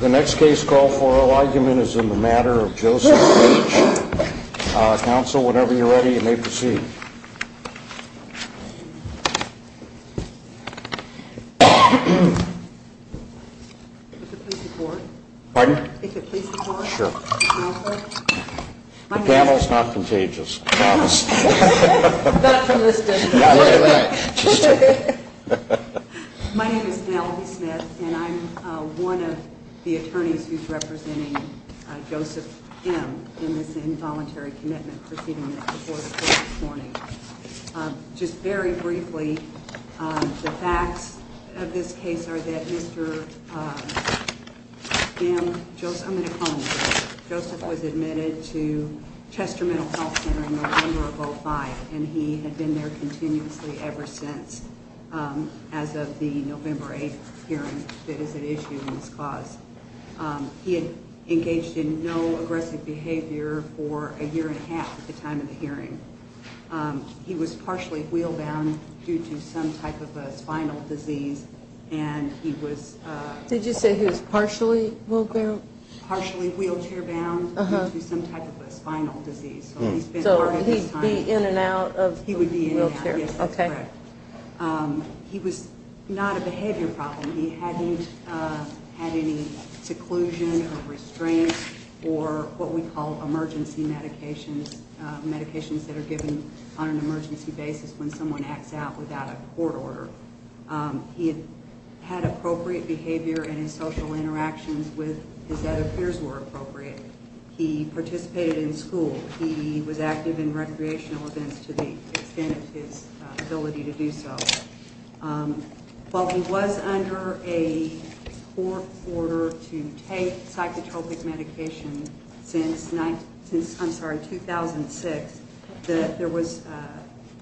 The next case call for argument is in the matter of Joseph H. Counsel, whenever you're ready, you may proceed. Would you please report? Pardon? Would you please report? Sure. Counsel? The panel is not contagious, I promise. Not from this day forward. My name is Penelope Smith, and I'm one of the attorneys who's representing Joseph M. in this involuntary commitment proceeding that's before the court this morning. Just very briefly, the facts of this case are that Mr. M. Joseph was admitted to Chester Mental Health Center in November of 2005, and he had been there continuously ever since as of the November 8th hearing that is at issue in this cause. He had engaged in no aggressive behavior for a year and a half at the time of the hearing. He was partially wheel-bound due to some type of a spinal disease, and he was – Did you say he was partially wheel-bound? Partially wheelchair-bound due to some type of a spinal disease. So he'd be in and out of the wheelchair. He would be in and out, yes. Okay. He was not a behavior problem. He hadn't had any seclusion or restraint or what we call emergency medications, medications that are given on an emergency basis when someone acts out without a court order. He had appropriate behavior in his social interactions with his other peers were appropriate. He participated in school. He was active in recreational events to the extent of his ability to do so. While he was under a court order to take psychotropic medication since, I'm sorry, 2006, there was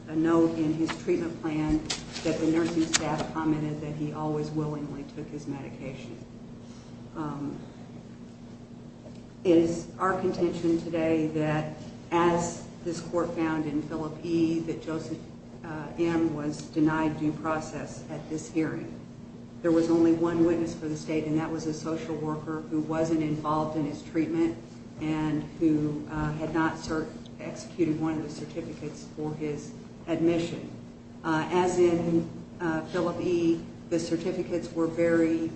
a note in his treatment plan that the nursing staff commented that he always willingly took his medication. It is our contention today that as this court found in Philip E. that Joseph M. was denied due process at this hearing. There was only one witness for the state, and that was a social worker who wasn't involved in his treatment and who had not executed one of the certificates for his admission. As in Philip E., the certificates were very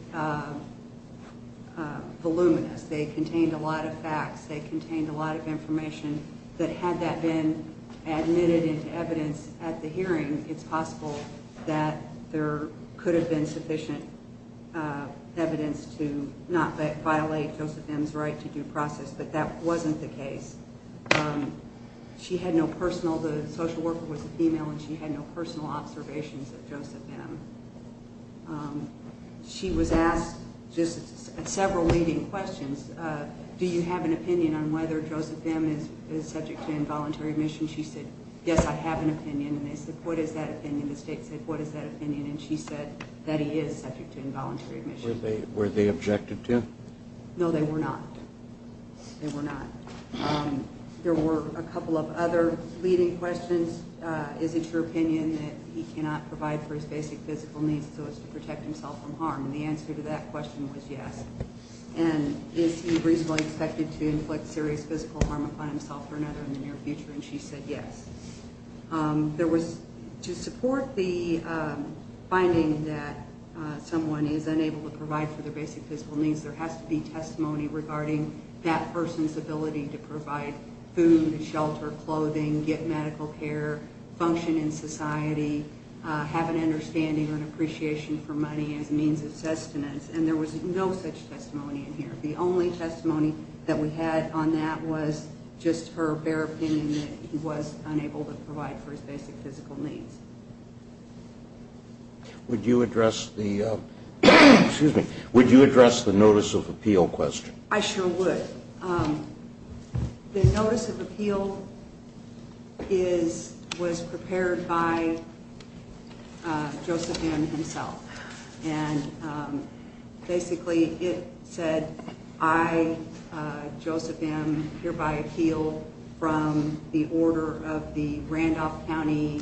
voluminous. They contained a lot of facts. They contained a lot of information that had that been admitted into evidence at the hearing, it's possible that there could have been sufficient evidence to not violate Joseph M.'s right to due process, but that wasn't the case. She had no personal, the social worker was a female, and she had no personal observations of Joseph M. She was asked just several leading questions. Do you have an opinion on whether Joseph M. is subject to involuntary admission? She said, yes, I have an opinion. And they said, what is that opinion? The state said, what is that opinion? And she said that he is subject to involuntary admission. Were they objected to? No, they were not. They were not. There were a couple of other leading questions. Is it your opinion that he cannot provide for his basic physical needs so as to protect himself from harm? And the answer to that question was yes. And is he reasonably expected to inflict serious physical harm upon himself or another in the near future? And she said yes. There was, to support the finding that someone is unable to provide for their basic physical needs, there has to be testimony regarding that person's ability to provide food, shelter, clothing, get medical care, function in society, have an understanding or an appreciation for money as a means of sustenance. And there was no such testimony in here. The only testimony that we had on that was just her bare opinion that he was unable to provide for his basic physical needs. Would you address the notice of appeal question? I sure would. The notice of appeal was prepared by Joseph M. himself. And basically it said, I, Joseph M., hereby appeal from the order of the Randolph County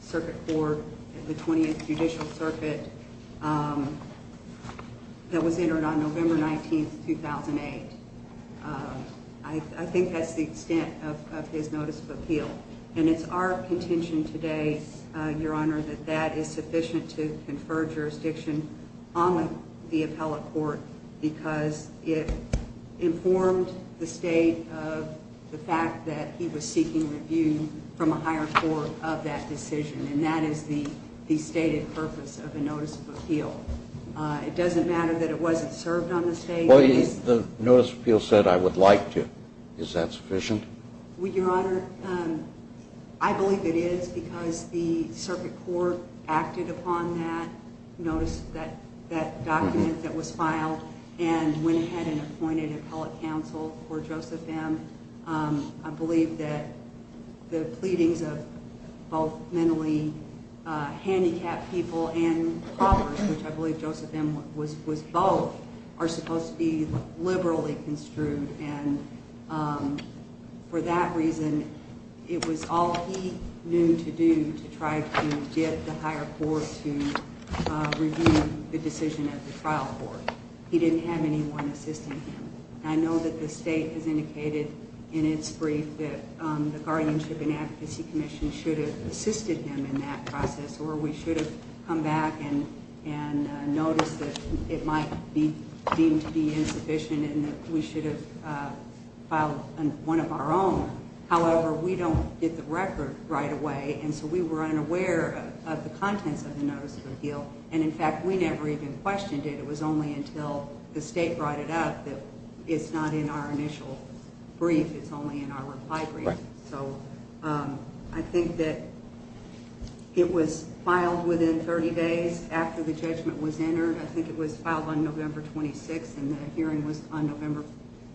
Circuit Court, the 20th Judicial Circuit, that was entered on November 19, 2008. I think that's the extent of his notice of appeal. And it's our contention today, Your Honor, that that is sufficient to confer jurisdiction on the appellate court because it informed the State of the fact that he was seeking review from a higher court of that decision. And that is the stated purpose of a notice of appeal. It doesn't matter that it wasn't served on the State. Well, the notice of appeal said, I would like to. Is that sufficient? Your Honor, I believe it is because the Circuit Court acted upon that, noticed that document that was filed, and went ahead and appointed appellate counsel for Joseph M. I believe that the pleadings of both mentally handicapped people and paupers, which I believe Joseph M. was both, are supposed to be liberally construed and for that reason it was all he knew to do to try to get the higher court to review the decision at the trial court. He didn't have anyone assisting him. I know that the State has indicated in its brief that the Guardianship and Advocacy Commission should have assisted him in that process or we should have come back and noticed that it might be deemed to be insufficient and that we should have filed one of our own. However, we don't get the record right away, and so we were unaware of the contents of the notice of appeal. And, in fact, we never even questioned it. It was only until the State brought it up that it's not in our initial brief. It's only in our reply brief. So I think that it was filed within 30 days after the judgment was entered. I think it was filed on November 26th, and the hearing was on November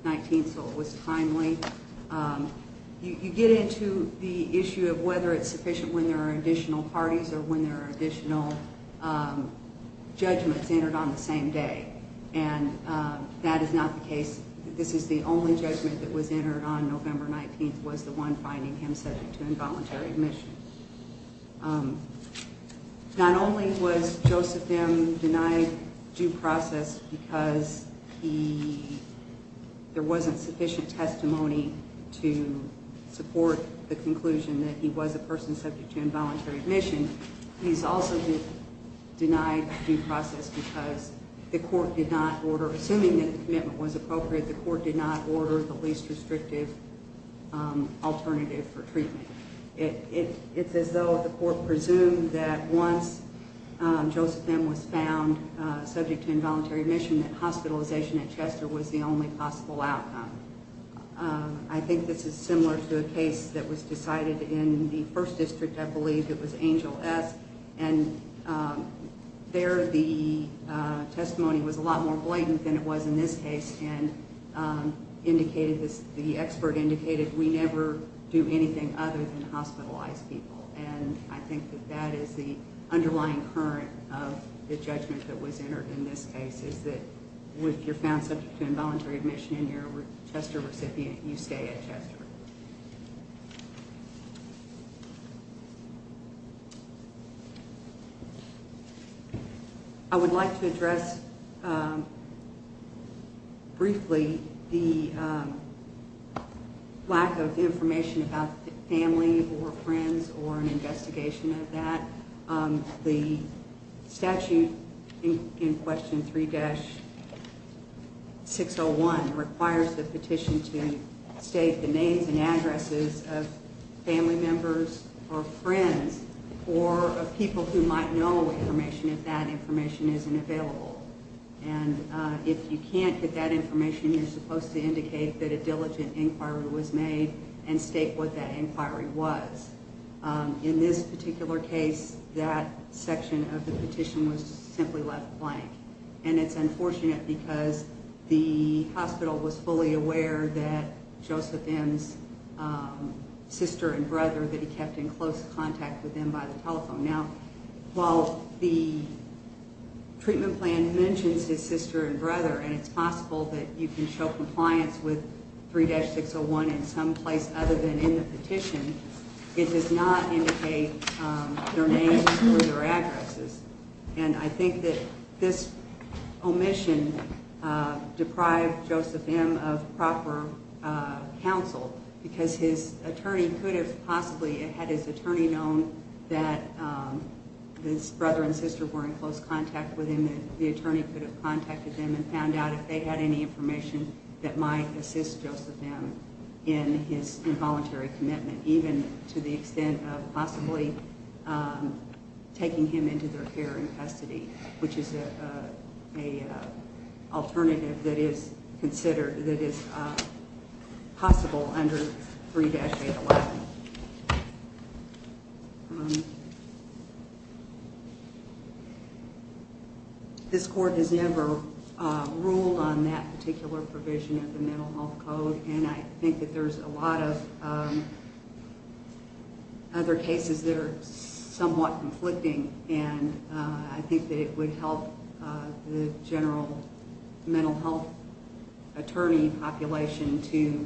19th, so it was timely. You get into the issue of whether it's sufficient when there are additional parties or when there are additional judgments entered on the same day, and that is not the case. This is the only judgment that was entered on November 19th was the one finding him subject to involuntary admission. Not only was Joseph M. denied due process because there wasn't sufficient testimony to support the conclusion that he was a person subject to involuntary admission, he's also denied due process because the court did not order, assuming that the commitment was appropriate, the court did not order the least restrictive alternative for treatment. It's as though the court presumed that once Joseph M. was found subject to involuntary admission, that hospitalization at Chester was the only possible outcome. I think this is similar to a case that was decided in the first district, I believe. It was Angel S., and there the testimony was a lot more blatant than it was in this case, and the expert indicated we never do anything other than hospitalize people, and I think that that is the underlying current of the judgment that was entered in this case, is that if you're found subject to involuntary admission and you're a Chester recipient, you stay at Chester. I would like to address briefly the lack of information about family or friends or an investigation of that. The statute in question 3-601 requires the petition to state the names and addresses of family members or friends or of people who might know information if that information isn't available, and if you can't get that information, you're supposed to indicate that a diligent inquiry was made and state what that inquiry was. In this particular case, that section of the petition was simply left blank, and it's unfortunate because the hospital was fully aware that Joseph M.'s sister and brother, that he kept in close contact with them by the telephone. Now, while the treatment plan mentions his sister and brother, and it's possible that you can show compliance with 3-601 in some place other than in the petition, it does not indicate their names or their addresses, and I think that this omission deprived Joseph M. of proper counsel because his attorney could have possibly had his attorney known that his brother and sister were in close contact with him, and the attorney could have contacted them and found out if they had any information that might assist Joseph M. in his involuntary commitment, even to the extent of possibly taking him into their care in custody, which is an alternative that is possible under 3-811. This Court has never ruled on that particular provision of the Mental Health Code, and I think that there's a lot of other cases that are somewhat conflicting, and I think that it would help the general mental health attorney population to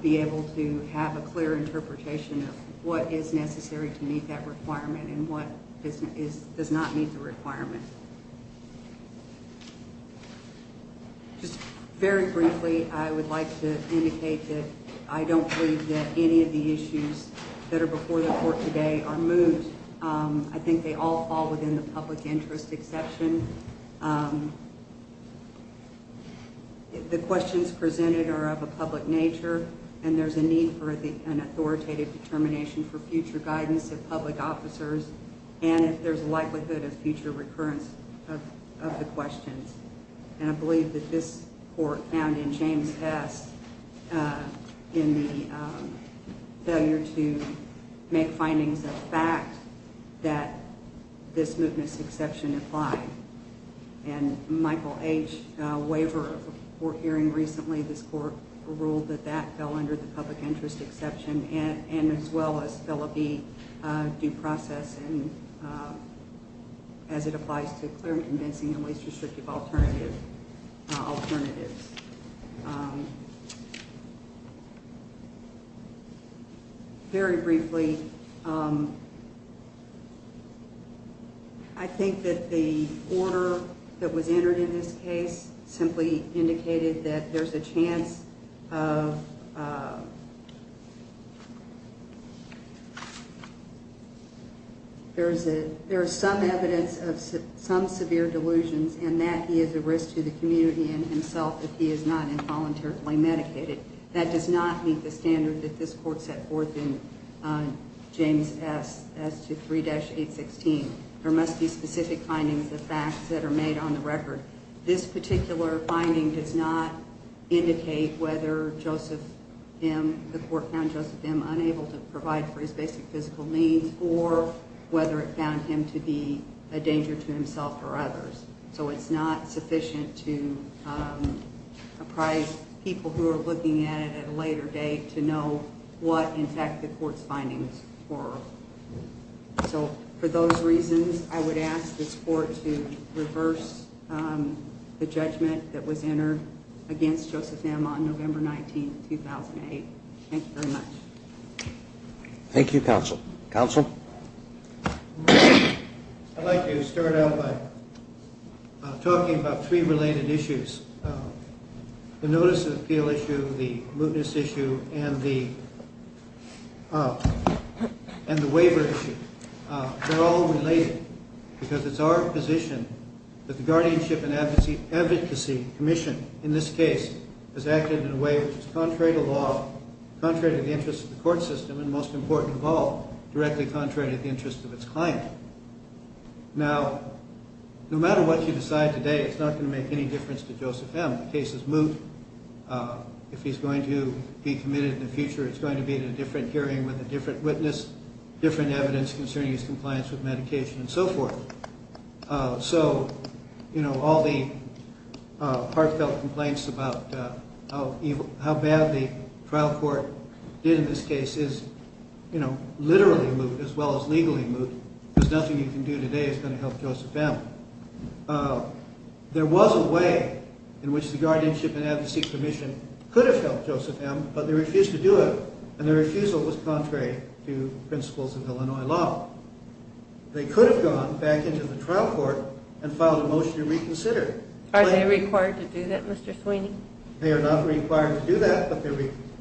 be able to have a clear interpretation of what is necessary to meet that requirement and what does not meet the requirement. Just very briefly, I would like to indicate that I don't believe that any of the issues that are before the Court today are moved. I think they all fall within the public interest exception. The questions presented are of a public nature, and there's a need for an authoritative determination for future guidance of public officers and if there's a likelihood of future recurrence of the questions. And I believe that this Court found in James S. in the failure to make findings a fact that this movement's exception applied. And Michael H. Waver of the Court hearing recently, this Court ruled that that fell under the public interest exception and as well as fell under the due process as it applies to clear, convincing, and least restrictive alternatives. Very briefly, I think that the order that was entered in this case simply indicated that there's a chance of there's some evidence of some severe delusions and that he is a risk to the community and himself if he is not involuntarily medicated. That does not meet the standard that this Court set forth in James S. S23-816. There must be specific findings of facts that are made on the record. This particular finding does not indicate whether the Court found Joseph M. unable to provide for his basic physical needs or whether it found him to be a danger to himself or others. So it's not sufficient to apprise people who are looking at it at a later date to know what, in fact, the Court's findings were. So for those reasons, I would ask this Court to reverse the judgment that was entered against Joseph M. on November 19, 2008. Thank you very much. Thank you, Counsel. Counsel? I'd like to start out by talking about three related issues. The notice of appeal issue, the mootness issue, and the waiver issue. They're all related because it's our position that the Guardianship and Advocacy Commission in this case has acted in a way which is contrary to law, contrary to the interests of the court system, and most important of all, directly contrary to the interests of its client. Now, no matter what you decide today, it's not going to make any difference to Joseph M. The case is moot. If he's going to be committed in the future, it's going to be at a different hearing with a different witness, different evidence concerning his compliance with medication, and so forth. So, you know, all the heartfelt complaints about how bad the trial court did in this case is, you know, literally moot as well as legally moot. There's nothing you can do today that's going to help Joseph M. There was a way in which the Guardianship and Advocacy Commission could have helped Joseph M., but they refused to do it, and their refusal was contrary to principles of Illinois law. They could have gone back into the trial court and filed a motion to reconsider. Are they required to do that, Mr. Sweeney? They are not required to do that, but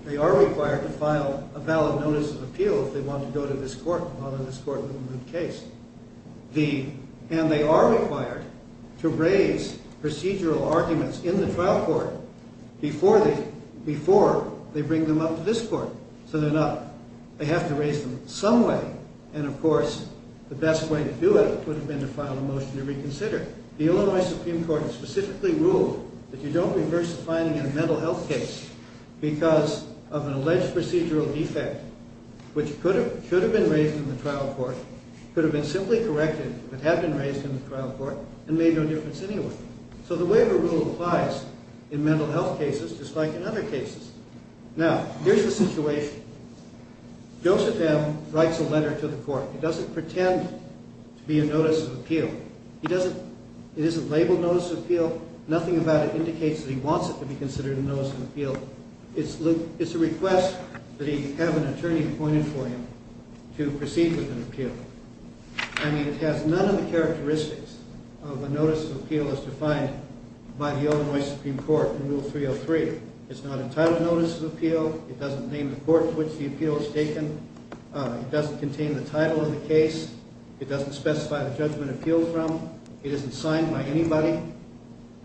they are required to file a valid notice of appeal if they want to go to this court, to honor this court with a moot case. And they are required to raise procedural arguments in the trial court before they bring them up to this court, so they're not. They have to raise them some way, and, of course, the best way to do it would have been to file a motion to reconsider. The Illinois Supreme Court specifically ruled that you don't reverse a finding in a mental health case because of an alleged procedural defect, which could have been raised in the trial court, could have been simply corrected if it had been raised in the trial court, and made no difference anyway. So the waiver rule applies in mental health cases just like in other cases. Now, here's the situation. Joseph M. writes a letter to the court. It doesn't pretend to be a notice of appeal. It isn't labeled notice of appeal. Nothing about it indicates that he wants it to be considered a notice of appeal. It's a request that he have an attorney appointed for him to proceed with an appeal. I mean, it has none of the characteristics of a notice of appeal as defined by the Illinois Supreme Court in Rule 303. It's not a title notice of appeal. It doesn't name the court in which the appeal is taken. It doesn't contain the title of the case. It doesn't specify the judgment appealed from. It isn't signed by anybody,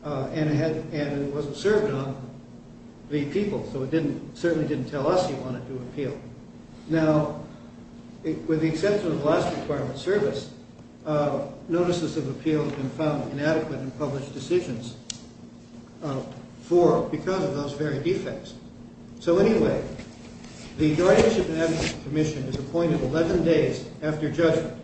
and it wasn't served on the people, so it certainly didn't tell us he wanted to appeal. Now, with the exception of the last requirement of service, notices of appeal have been found inadequate in published decisions because of those very defects. So anyway, the Judiciary Commission is appointed 11 days after judgment.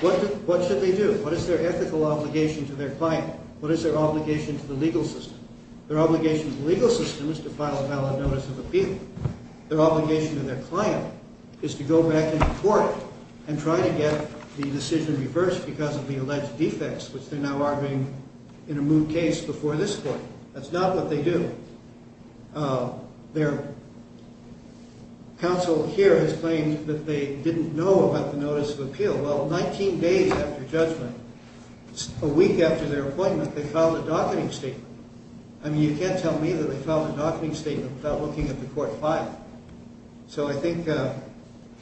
What should they do? What is their ethical obligation to their client? What is their obligation to the legal system? Their obligation to the legal system is to file a valid notice of appeal. Their obligation to their client is to go back into court and try to get the decision reversed because of the alleged defects, which they're now arguing in a moot case before this court. That's not what they do. Counsel here has claimed that they didn't know about the notice of appeal. Well, 19 days after judgment, a week after their appointment, they filed a docketing statement. I mean, you can't tell me that they filed a docketing statement without looking at the court file. So I think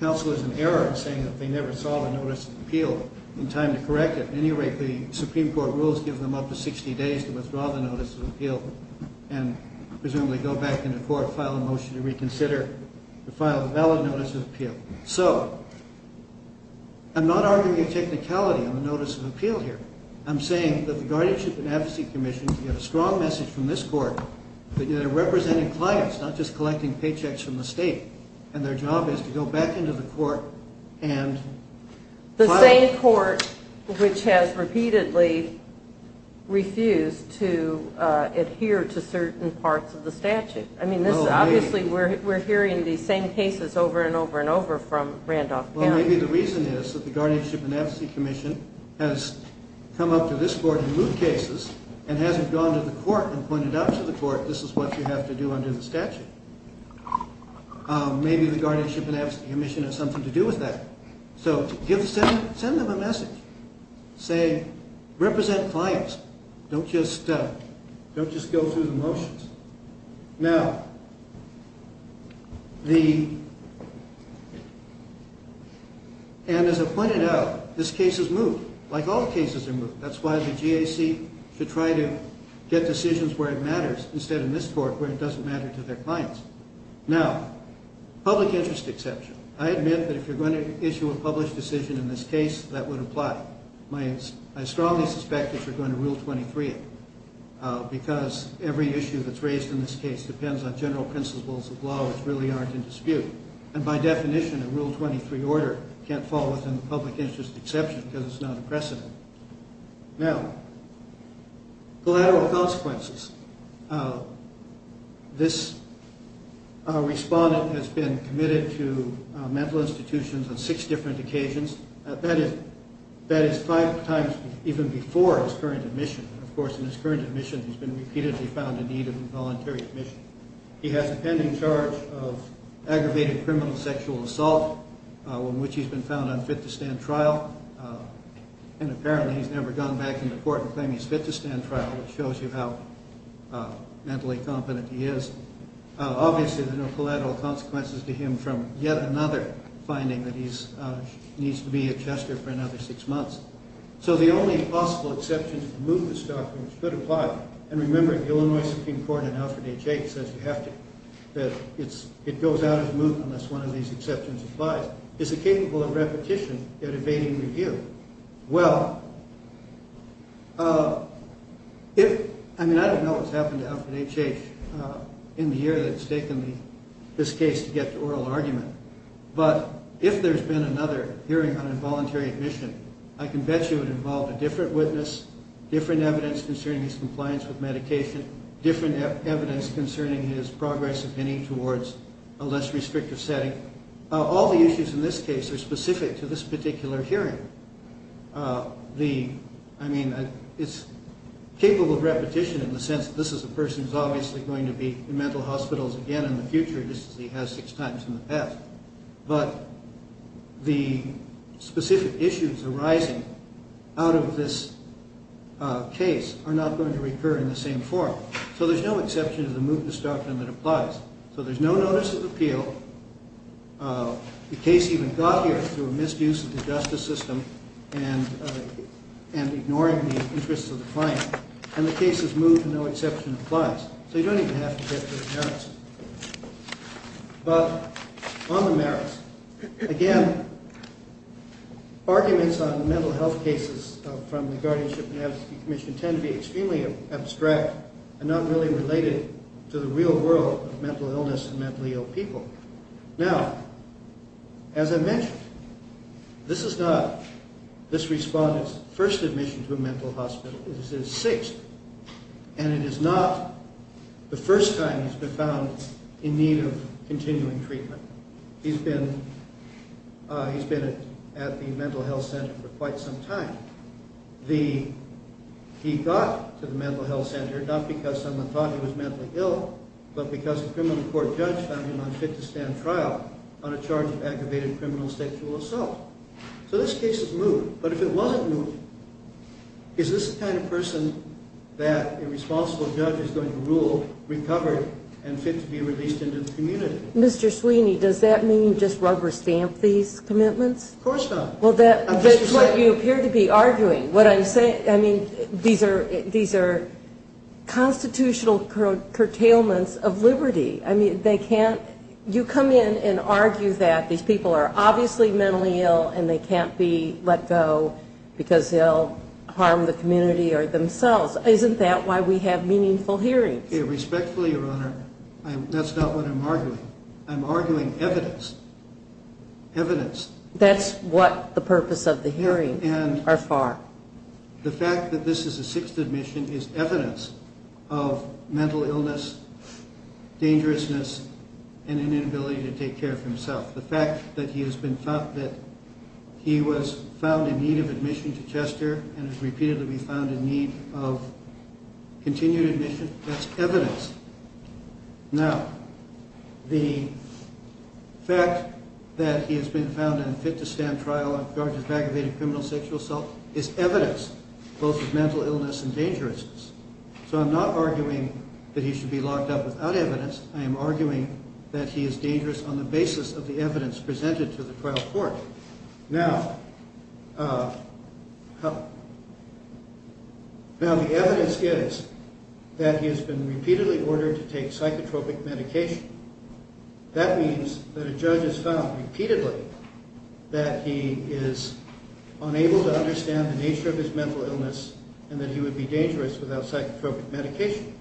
counsel is in error in saying that they never saw the notice of appeal in time to correct it. At any rate, the Supreme Court rules give them up to 60 days to withdraw the notice of appeal and presumably go back into court, file a motion to reconsider, to file a valid notice of appeal. So I'm not arguing a technicality on the notice of appeal here. I'm saying that the Guardianship and Advocacy Commission, we have a strong message from this court that they're representing clients, not just collecting paychecks from the state, and their job is to go back into the court and file it. The same court which has repeatedly refused to adhere to certain parts of the statute. I mean, obviously we're hearing these same cases over and over and over from Randolph County. Well, maybe the reason is that the Guardianship and Advocacy Commission has come up to this court in moot cases and hasn't gone to the court and pointed out to the court, this is what you have to do under the statute. Maybe the Guardianship and Advocacy Commission has something to do with that. So send them a message saying, represent clients. Don't just go through the motions. Now, and as I pointed out, this case is moot, like all cases are moot. That's why the GAC should try to get decisions where it matters, instead of in this court where it doesn't matter to their clients. Now, public interest exception. I admit that if you're going to issue a published decision in this case, that would apply. I strongly suspect that you're going to Rule 23 it, because every issue that's raised in this case depends on general principles of law which really aren't in dispute. And by definition, a Rule 23 order can't fall within the public interest exception because it's not a precedent. Now, collateral consequences. This respondent has been committed to mental institutions on six different occasions. That is five times even before his current admission. Of course, in his current admission, he's been repeatedly found in need of involuntary admission. He has a pending charge of aggravated criminal sexual assault, in which he's been found unfit to stand trial. And apparently he's never gone back into court and claimed he's fit to stand trial, which shows you how mentally competent he is. Obviously, there are no collateral consequences to him from yet another finding that he needs to be at Chester for another six months. So the only possible exception to the mootness doctrine should apply. And remember, the Illinois Supreme Court in Alfred H. H. says you have to. It goes out of moot unless one of these exceptions applies. Is it capable of repetition yet evading review? Well, I mean, I don't know what's happened to Alfred H. H. in the year that it's taken this case to get to oral argument. But if there's been another hearing on involuntary admission, I can bet you it involved a different witness, different evidence concerning his compliance with medication, different evidence concerning his progress of any towards a less restrictive setting. All the issues in this case are specific to this particular hearing. I mean, it's capable of repetition in the sense that this is a person who's obviously going to be in mental hospitals again in the future, just as he has six times in the past. But the specific issues arising out of this case are not going to recur in the same form. So there's no exception to the mootness doctrine that applies. So there's no notice of appeal. The case even got here through a misuse of the justice system and ignoring the interests of the client. And the case is moot and no exception applies. So you don't even have to get to the merits. But on the merits, again, arguments on mental health cases from the guardianship and advocacy commission tend to be extremely abstract and not really related to the real world of mental illness and mentally ill people. Now, as I mentioned, this is not this respondent's first admission to a mental hospital. This is his sixth. And it is not the first time he's been found in need of continuing treatment. He's been at the mental health center for quite some time. He got to the mental health center not because someone thought he was mentally ill, but because a criminal court judge found him unfit to stand trial on a charge of aggravated criminal sexual assault. So this case is moot. But if it wasn't moot, is this the kind of person that a responsible judge is going to rule recovered and fit to be released into the community? Mr. Sweeney, does that mean just rubber stamp these commitments? Of course not. Well, that's what you appear to be arguing. What I'm saying, I mean, these are constitutional curtailments of liberty. I mean, they can't you come in and argue that these people are obviously mentally ill and they can't be let go because they'll harm the community or themselves. Isn't that why we have meaningful hearings? Respectfully, Your Honor, that's not what I'm arguing. I'm arguing evidence. Evidence. That's what the purpose of the hearing are for. The fact that this is a sixth admission is evidence of mental illness, dangerousness, and an inability to take care of himself. The fact that he was found in need of admission to Chester and has repeatedly been found in need of continued admission, that's evidence. Now, the fact that he has been found in a fit-to-stand trial on charges of aggravated criminal sexual assault is evidence both of mental illness and dangerousness. So I'm not arguing that he should be locked up without evidence. I am arguing that he is dangerous on the basis of the evidence presented to the trial court. Now, the evidence is that he has been repeatedly ordered to take psychotropic medication. That means that a judge has found repeatedly that he is unable to understand the nature of his mental illness and that he would be dangerous without psychotropic medication.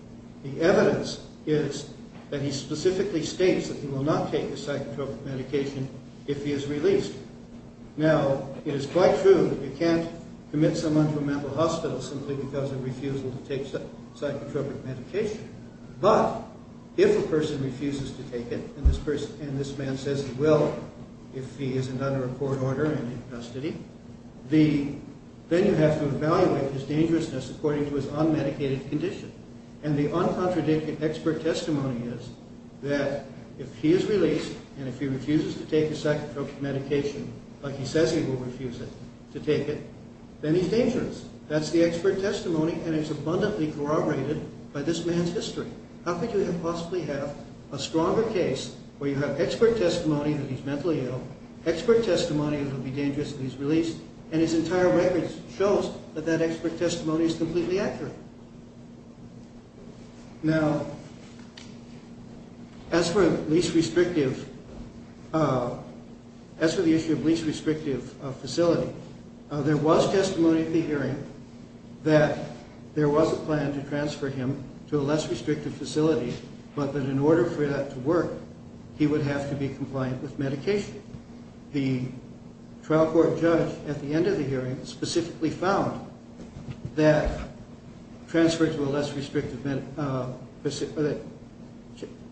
The evidence is that he specifically states that he will not take the psychotropic medication if he is released. Now, it is quite true that you can't commit someone to a mental hospital simply because of refusal to take psychotropic medication. But if a person refuses to take it, and this man says he will if he is under a court order and in custody, then you have to evaluate his dangerousness according to his unmedicated condition. And the uncontradicted expert testimony is that if he is released, and if he refuses to take the psychotropic medication like he says he will refuse to take it, then he's dangerous. That's the expert testimony, and it's abundantly corroborated by this man's history. How could you possibly have a stronger case where you have expert testimony that he's mentally ill, expert testimony that he'll be dangerous if he's released, and his entire record shows that that expert testimony is completely accurate. Now, as for the issue of least restrictive facility, there was testimony at the hearing that there was a plan to transfer him to a less restrictive facility, but that in order for that to work, he would have to be compliant with medication. The trial court judge at the end of the hearing specifically found that transfer to a less restrictive facility,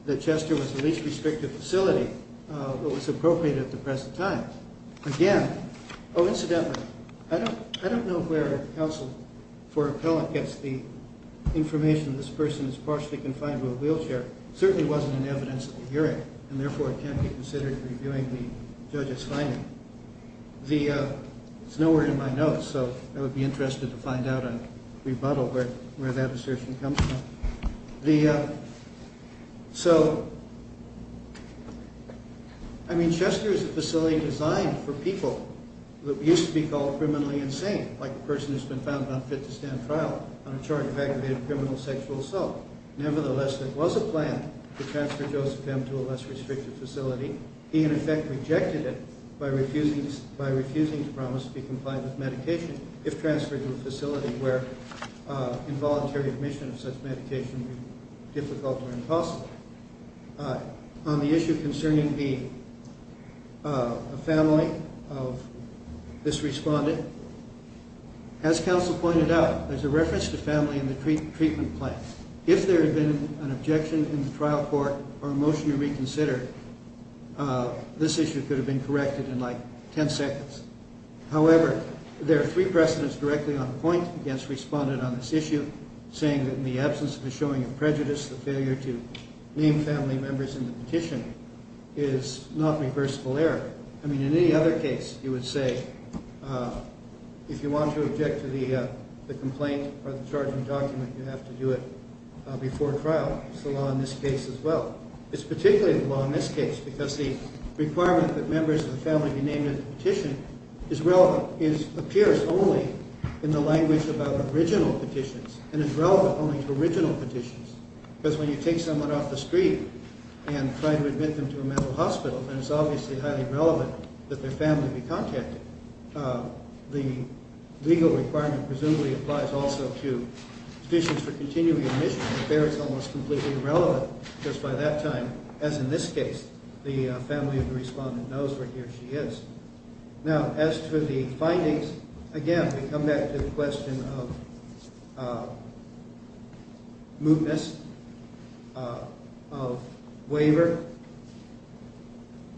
that Chester was the least restrictive facility that was appropriate at the present time. Again, oh, incidentally, I don't know where counsel for appellant gets the information that this person is partially confined to a wheelchair. Certainly wasn't in evidence at the hearing, and therefore it can't be considered reviewing the judge's finding. It's nowhere in my notes, so I would be interested to find out on rebuttal where that assertion comes from. So, I mean, Chester is a facility designed for people who used to be called criminally insane, like a person who's been found not fit to stand trial on a charge of aggravated criminal sexual assault. Nevertheless, there was a plan to transfer Joseph M. to a less restrictive facility. He, in effect, rejected it by refusing to promise to be compliant with medication if transferred to a facility where involuntary admission of such medication would be difficult or impossible. On the issue concerning the family of this respondent, as counsel pointed out, there's a reference to family in the treatment plan. If there had been an objection in the trial court or a motion to reconsider, this issue could have been corrected in, like, ten seconds. However, there are three precedents directly on point against respondent on this issue, saying that in the absence of a showing of prejudice, the failure to name family members in the petition is not reversible error. I mean, in any other case, you would say if you want to object to the complaint or the charging document, you have to do it before trial. It's the law in this case as well. It's particularly the law in this case because the requirement that members of the family be named in the petition appears only in the language about original petitions and is relevant only to original petitions. Because when you take someone off the street and try to admit them to a mental hospital, then it's obviously highly relevant that their family be contacted. The legal requirement presumably applies also to petitions for continuing admission. It's almost completely irrelevant because by that time, as in this case, the family of the respondent knows where he or she is. Now, as to the findings, again, we come back to the question of mootness, of waiver.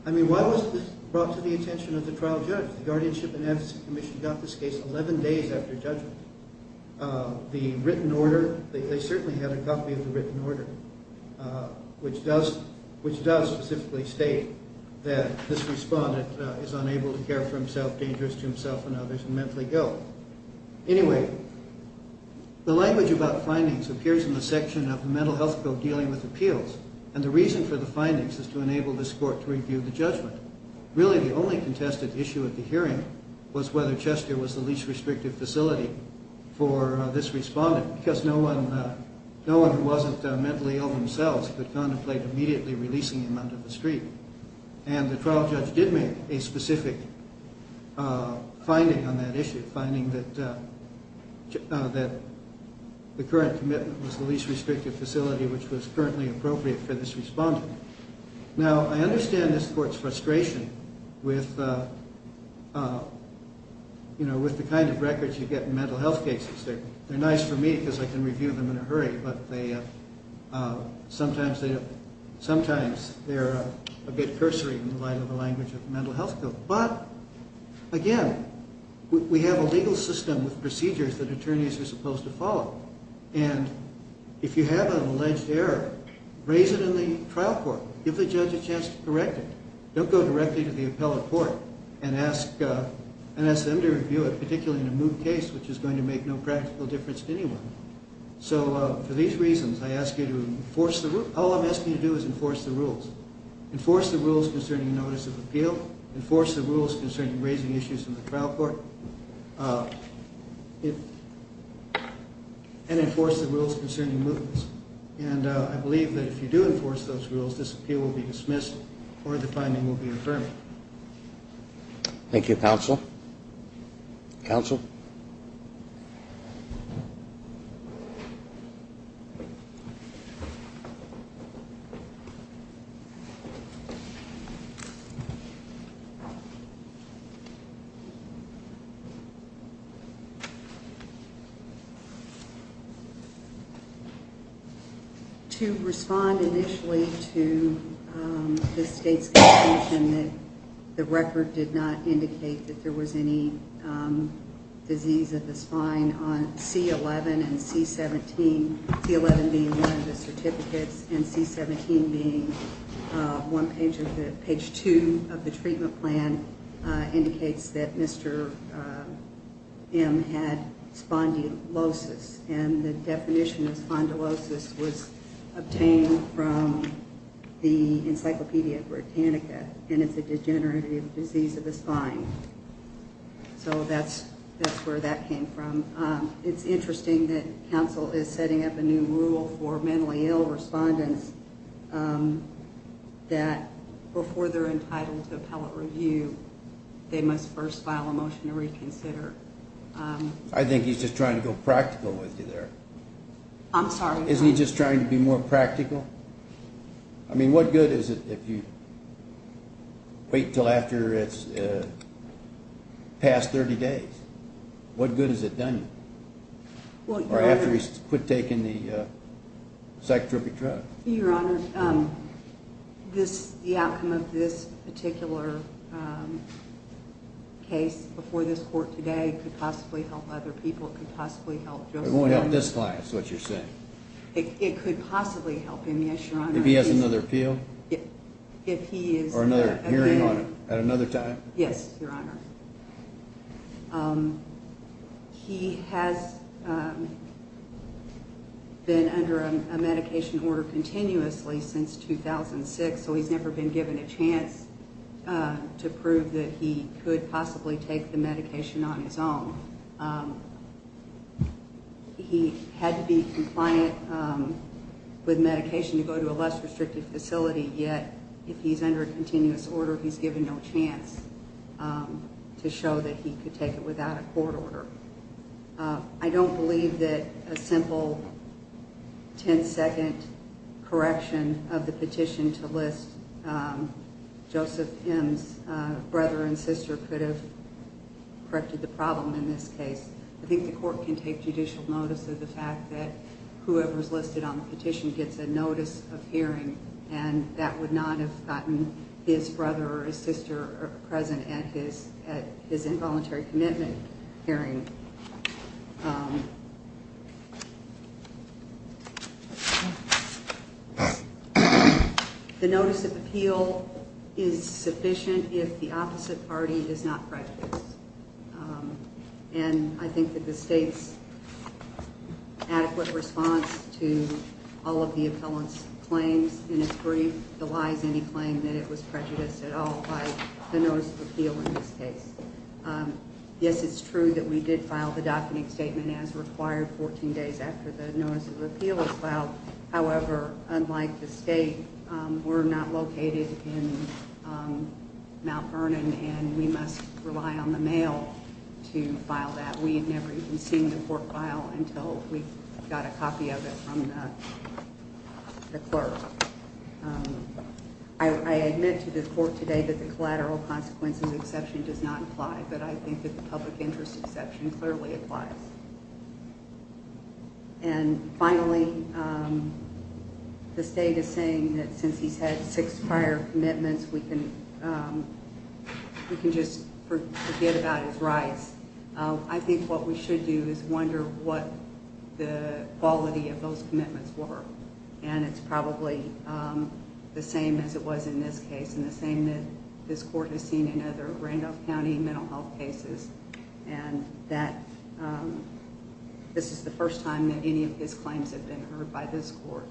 I mean, why was this brought to the attention of the trial judge? The Guardianship and Advocacy Commission got this case 11 days after judgment. The written order, they certainly had a copy of the written order, which does specifically state that this respondent is unable to care for himself, dangerous to himself and others, and mentally ill. Anyway, the language about findings appears in the section of the mental health bill dealing with appeals, and the reason for the findings is to enable this court to review the judgment. Really, the only contested issue at the hearing was whether Chester was the least restrictive facility for this respondent because no one who wasn't mentally ill themselves could contemplate immediately releasing him under the street. And the trial judge did make a specific finding on that issue, finding that the current commitment was the least restrictive facility, which was currently appropriate for this respondent. Now, I understand this court's frustration with the kind of records you get in mental health cases. They're nice for me because I can review them in a hurry, but sometimes they're a bit cursory in the light of the language of the mental health bill. But, again, we have a legal system with procedures that attorneys are supposed to follow. And if you have an alleged error, raise it in the trial court. Give the judge a chance to correct it. Don't go directly to the appellate court and ask them to review it, particularly in a moot case, which is going to make no practical difference to anyone. So for these reasons, all I'm asking you to do is enforce the rules. Enforce the rules concerning notice of appeal. Enforce the rules concerning raising issues in the trial court. And enforce the rules concerning mootness. And I believe that if you do enforce those rules, this appeal will be dismissed or the finding will be affirmed. Thank you, counsel. Counsel? Thank you. C-11 and C-17. C-11 being one of the certificates and C-17 being page two of the treatment plan indicates that Mr. M had spondylosis. And the definition of spondylosis was obtained from the Encyclopedia Britannica. And it's a degenerative disease of the spine. So that's where that came from. It's interesting that counsel is setting up a new rule for mentally ill respondents that before they're entitled to appellate review, they must first file a motion to reconsider. I think he's just trying to go practical with you there. I'm sorry? Isn't he just trying to be more practical? I mean, what good is it if you wait until after it's past 30 days? What good has it done you? Or after he's quit taking the psychotropic drugs. Your Honor, the outcome of this particular case before this court today could possibly help other people. It could possibly help Joseph. It won't help this client is what you're saying. It could possibly help him, yes, Your Honor. If he has another appeal? Or another hearing on him at another time? Yes, Your Honor. He has been under a medication order continuously since 2006, so he's never been given a chance to prove that he could possibly take the medication on his own. He had to be compliant with medication to go to a less restrictive facility, yet if he's under a continuous order, he's given no chance to show that he could take it without a court order. I don't believe that a simple 10-second correction of the petition to list Joseph M.'s brother and sister could have corrected the problem in this case. I think the court can take judicial notice of the fact that whoever's listed on the petition gets a notice of hearing, and that would not have gotten his brother or his sister present at his involuntary commitment hearing. The notice of appeal is sufficient if the opposite party is not pregnant. And I think that the state's adequate response to all of the appellant's claims in its brief delies any claim that it was prejudiced at all by the notice of appeal in this case. Yes, it's true that we did file the docketing statement as required 14 days after the notice of appeal was filed. However, unlike the state, we're not located in Mount Vernon, and we must rely on the mail to file that. We had never even seen the court file until we got a copy of it from the clerk. I admit to the court today that the collateral consequences exception does not apply, but I think that the public interest exception clearly applies. And finally, the state is saying that since he's had six prior commitments, we can just forget about his rights. I think what we should do is wonder what the quality of those commitments were. And it's probably the same as it was in this case, and the same that this court has seen in other Randolph County mental health cases, and that this is the first time that any of his claims have been heard by this court.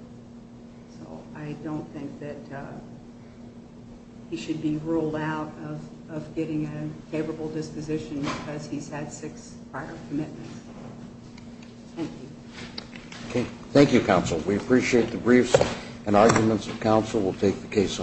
So I don't think that he should be ruled out of getting a favorable disposition because he's had six prior commitments. Thank you. Thank you, counsel. We appreciate the briefs and arguments of counsel. We'll take the case.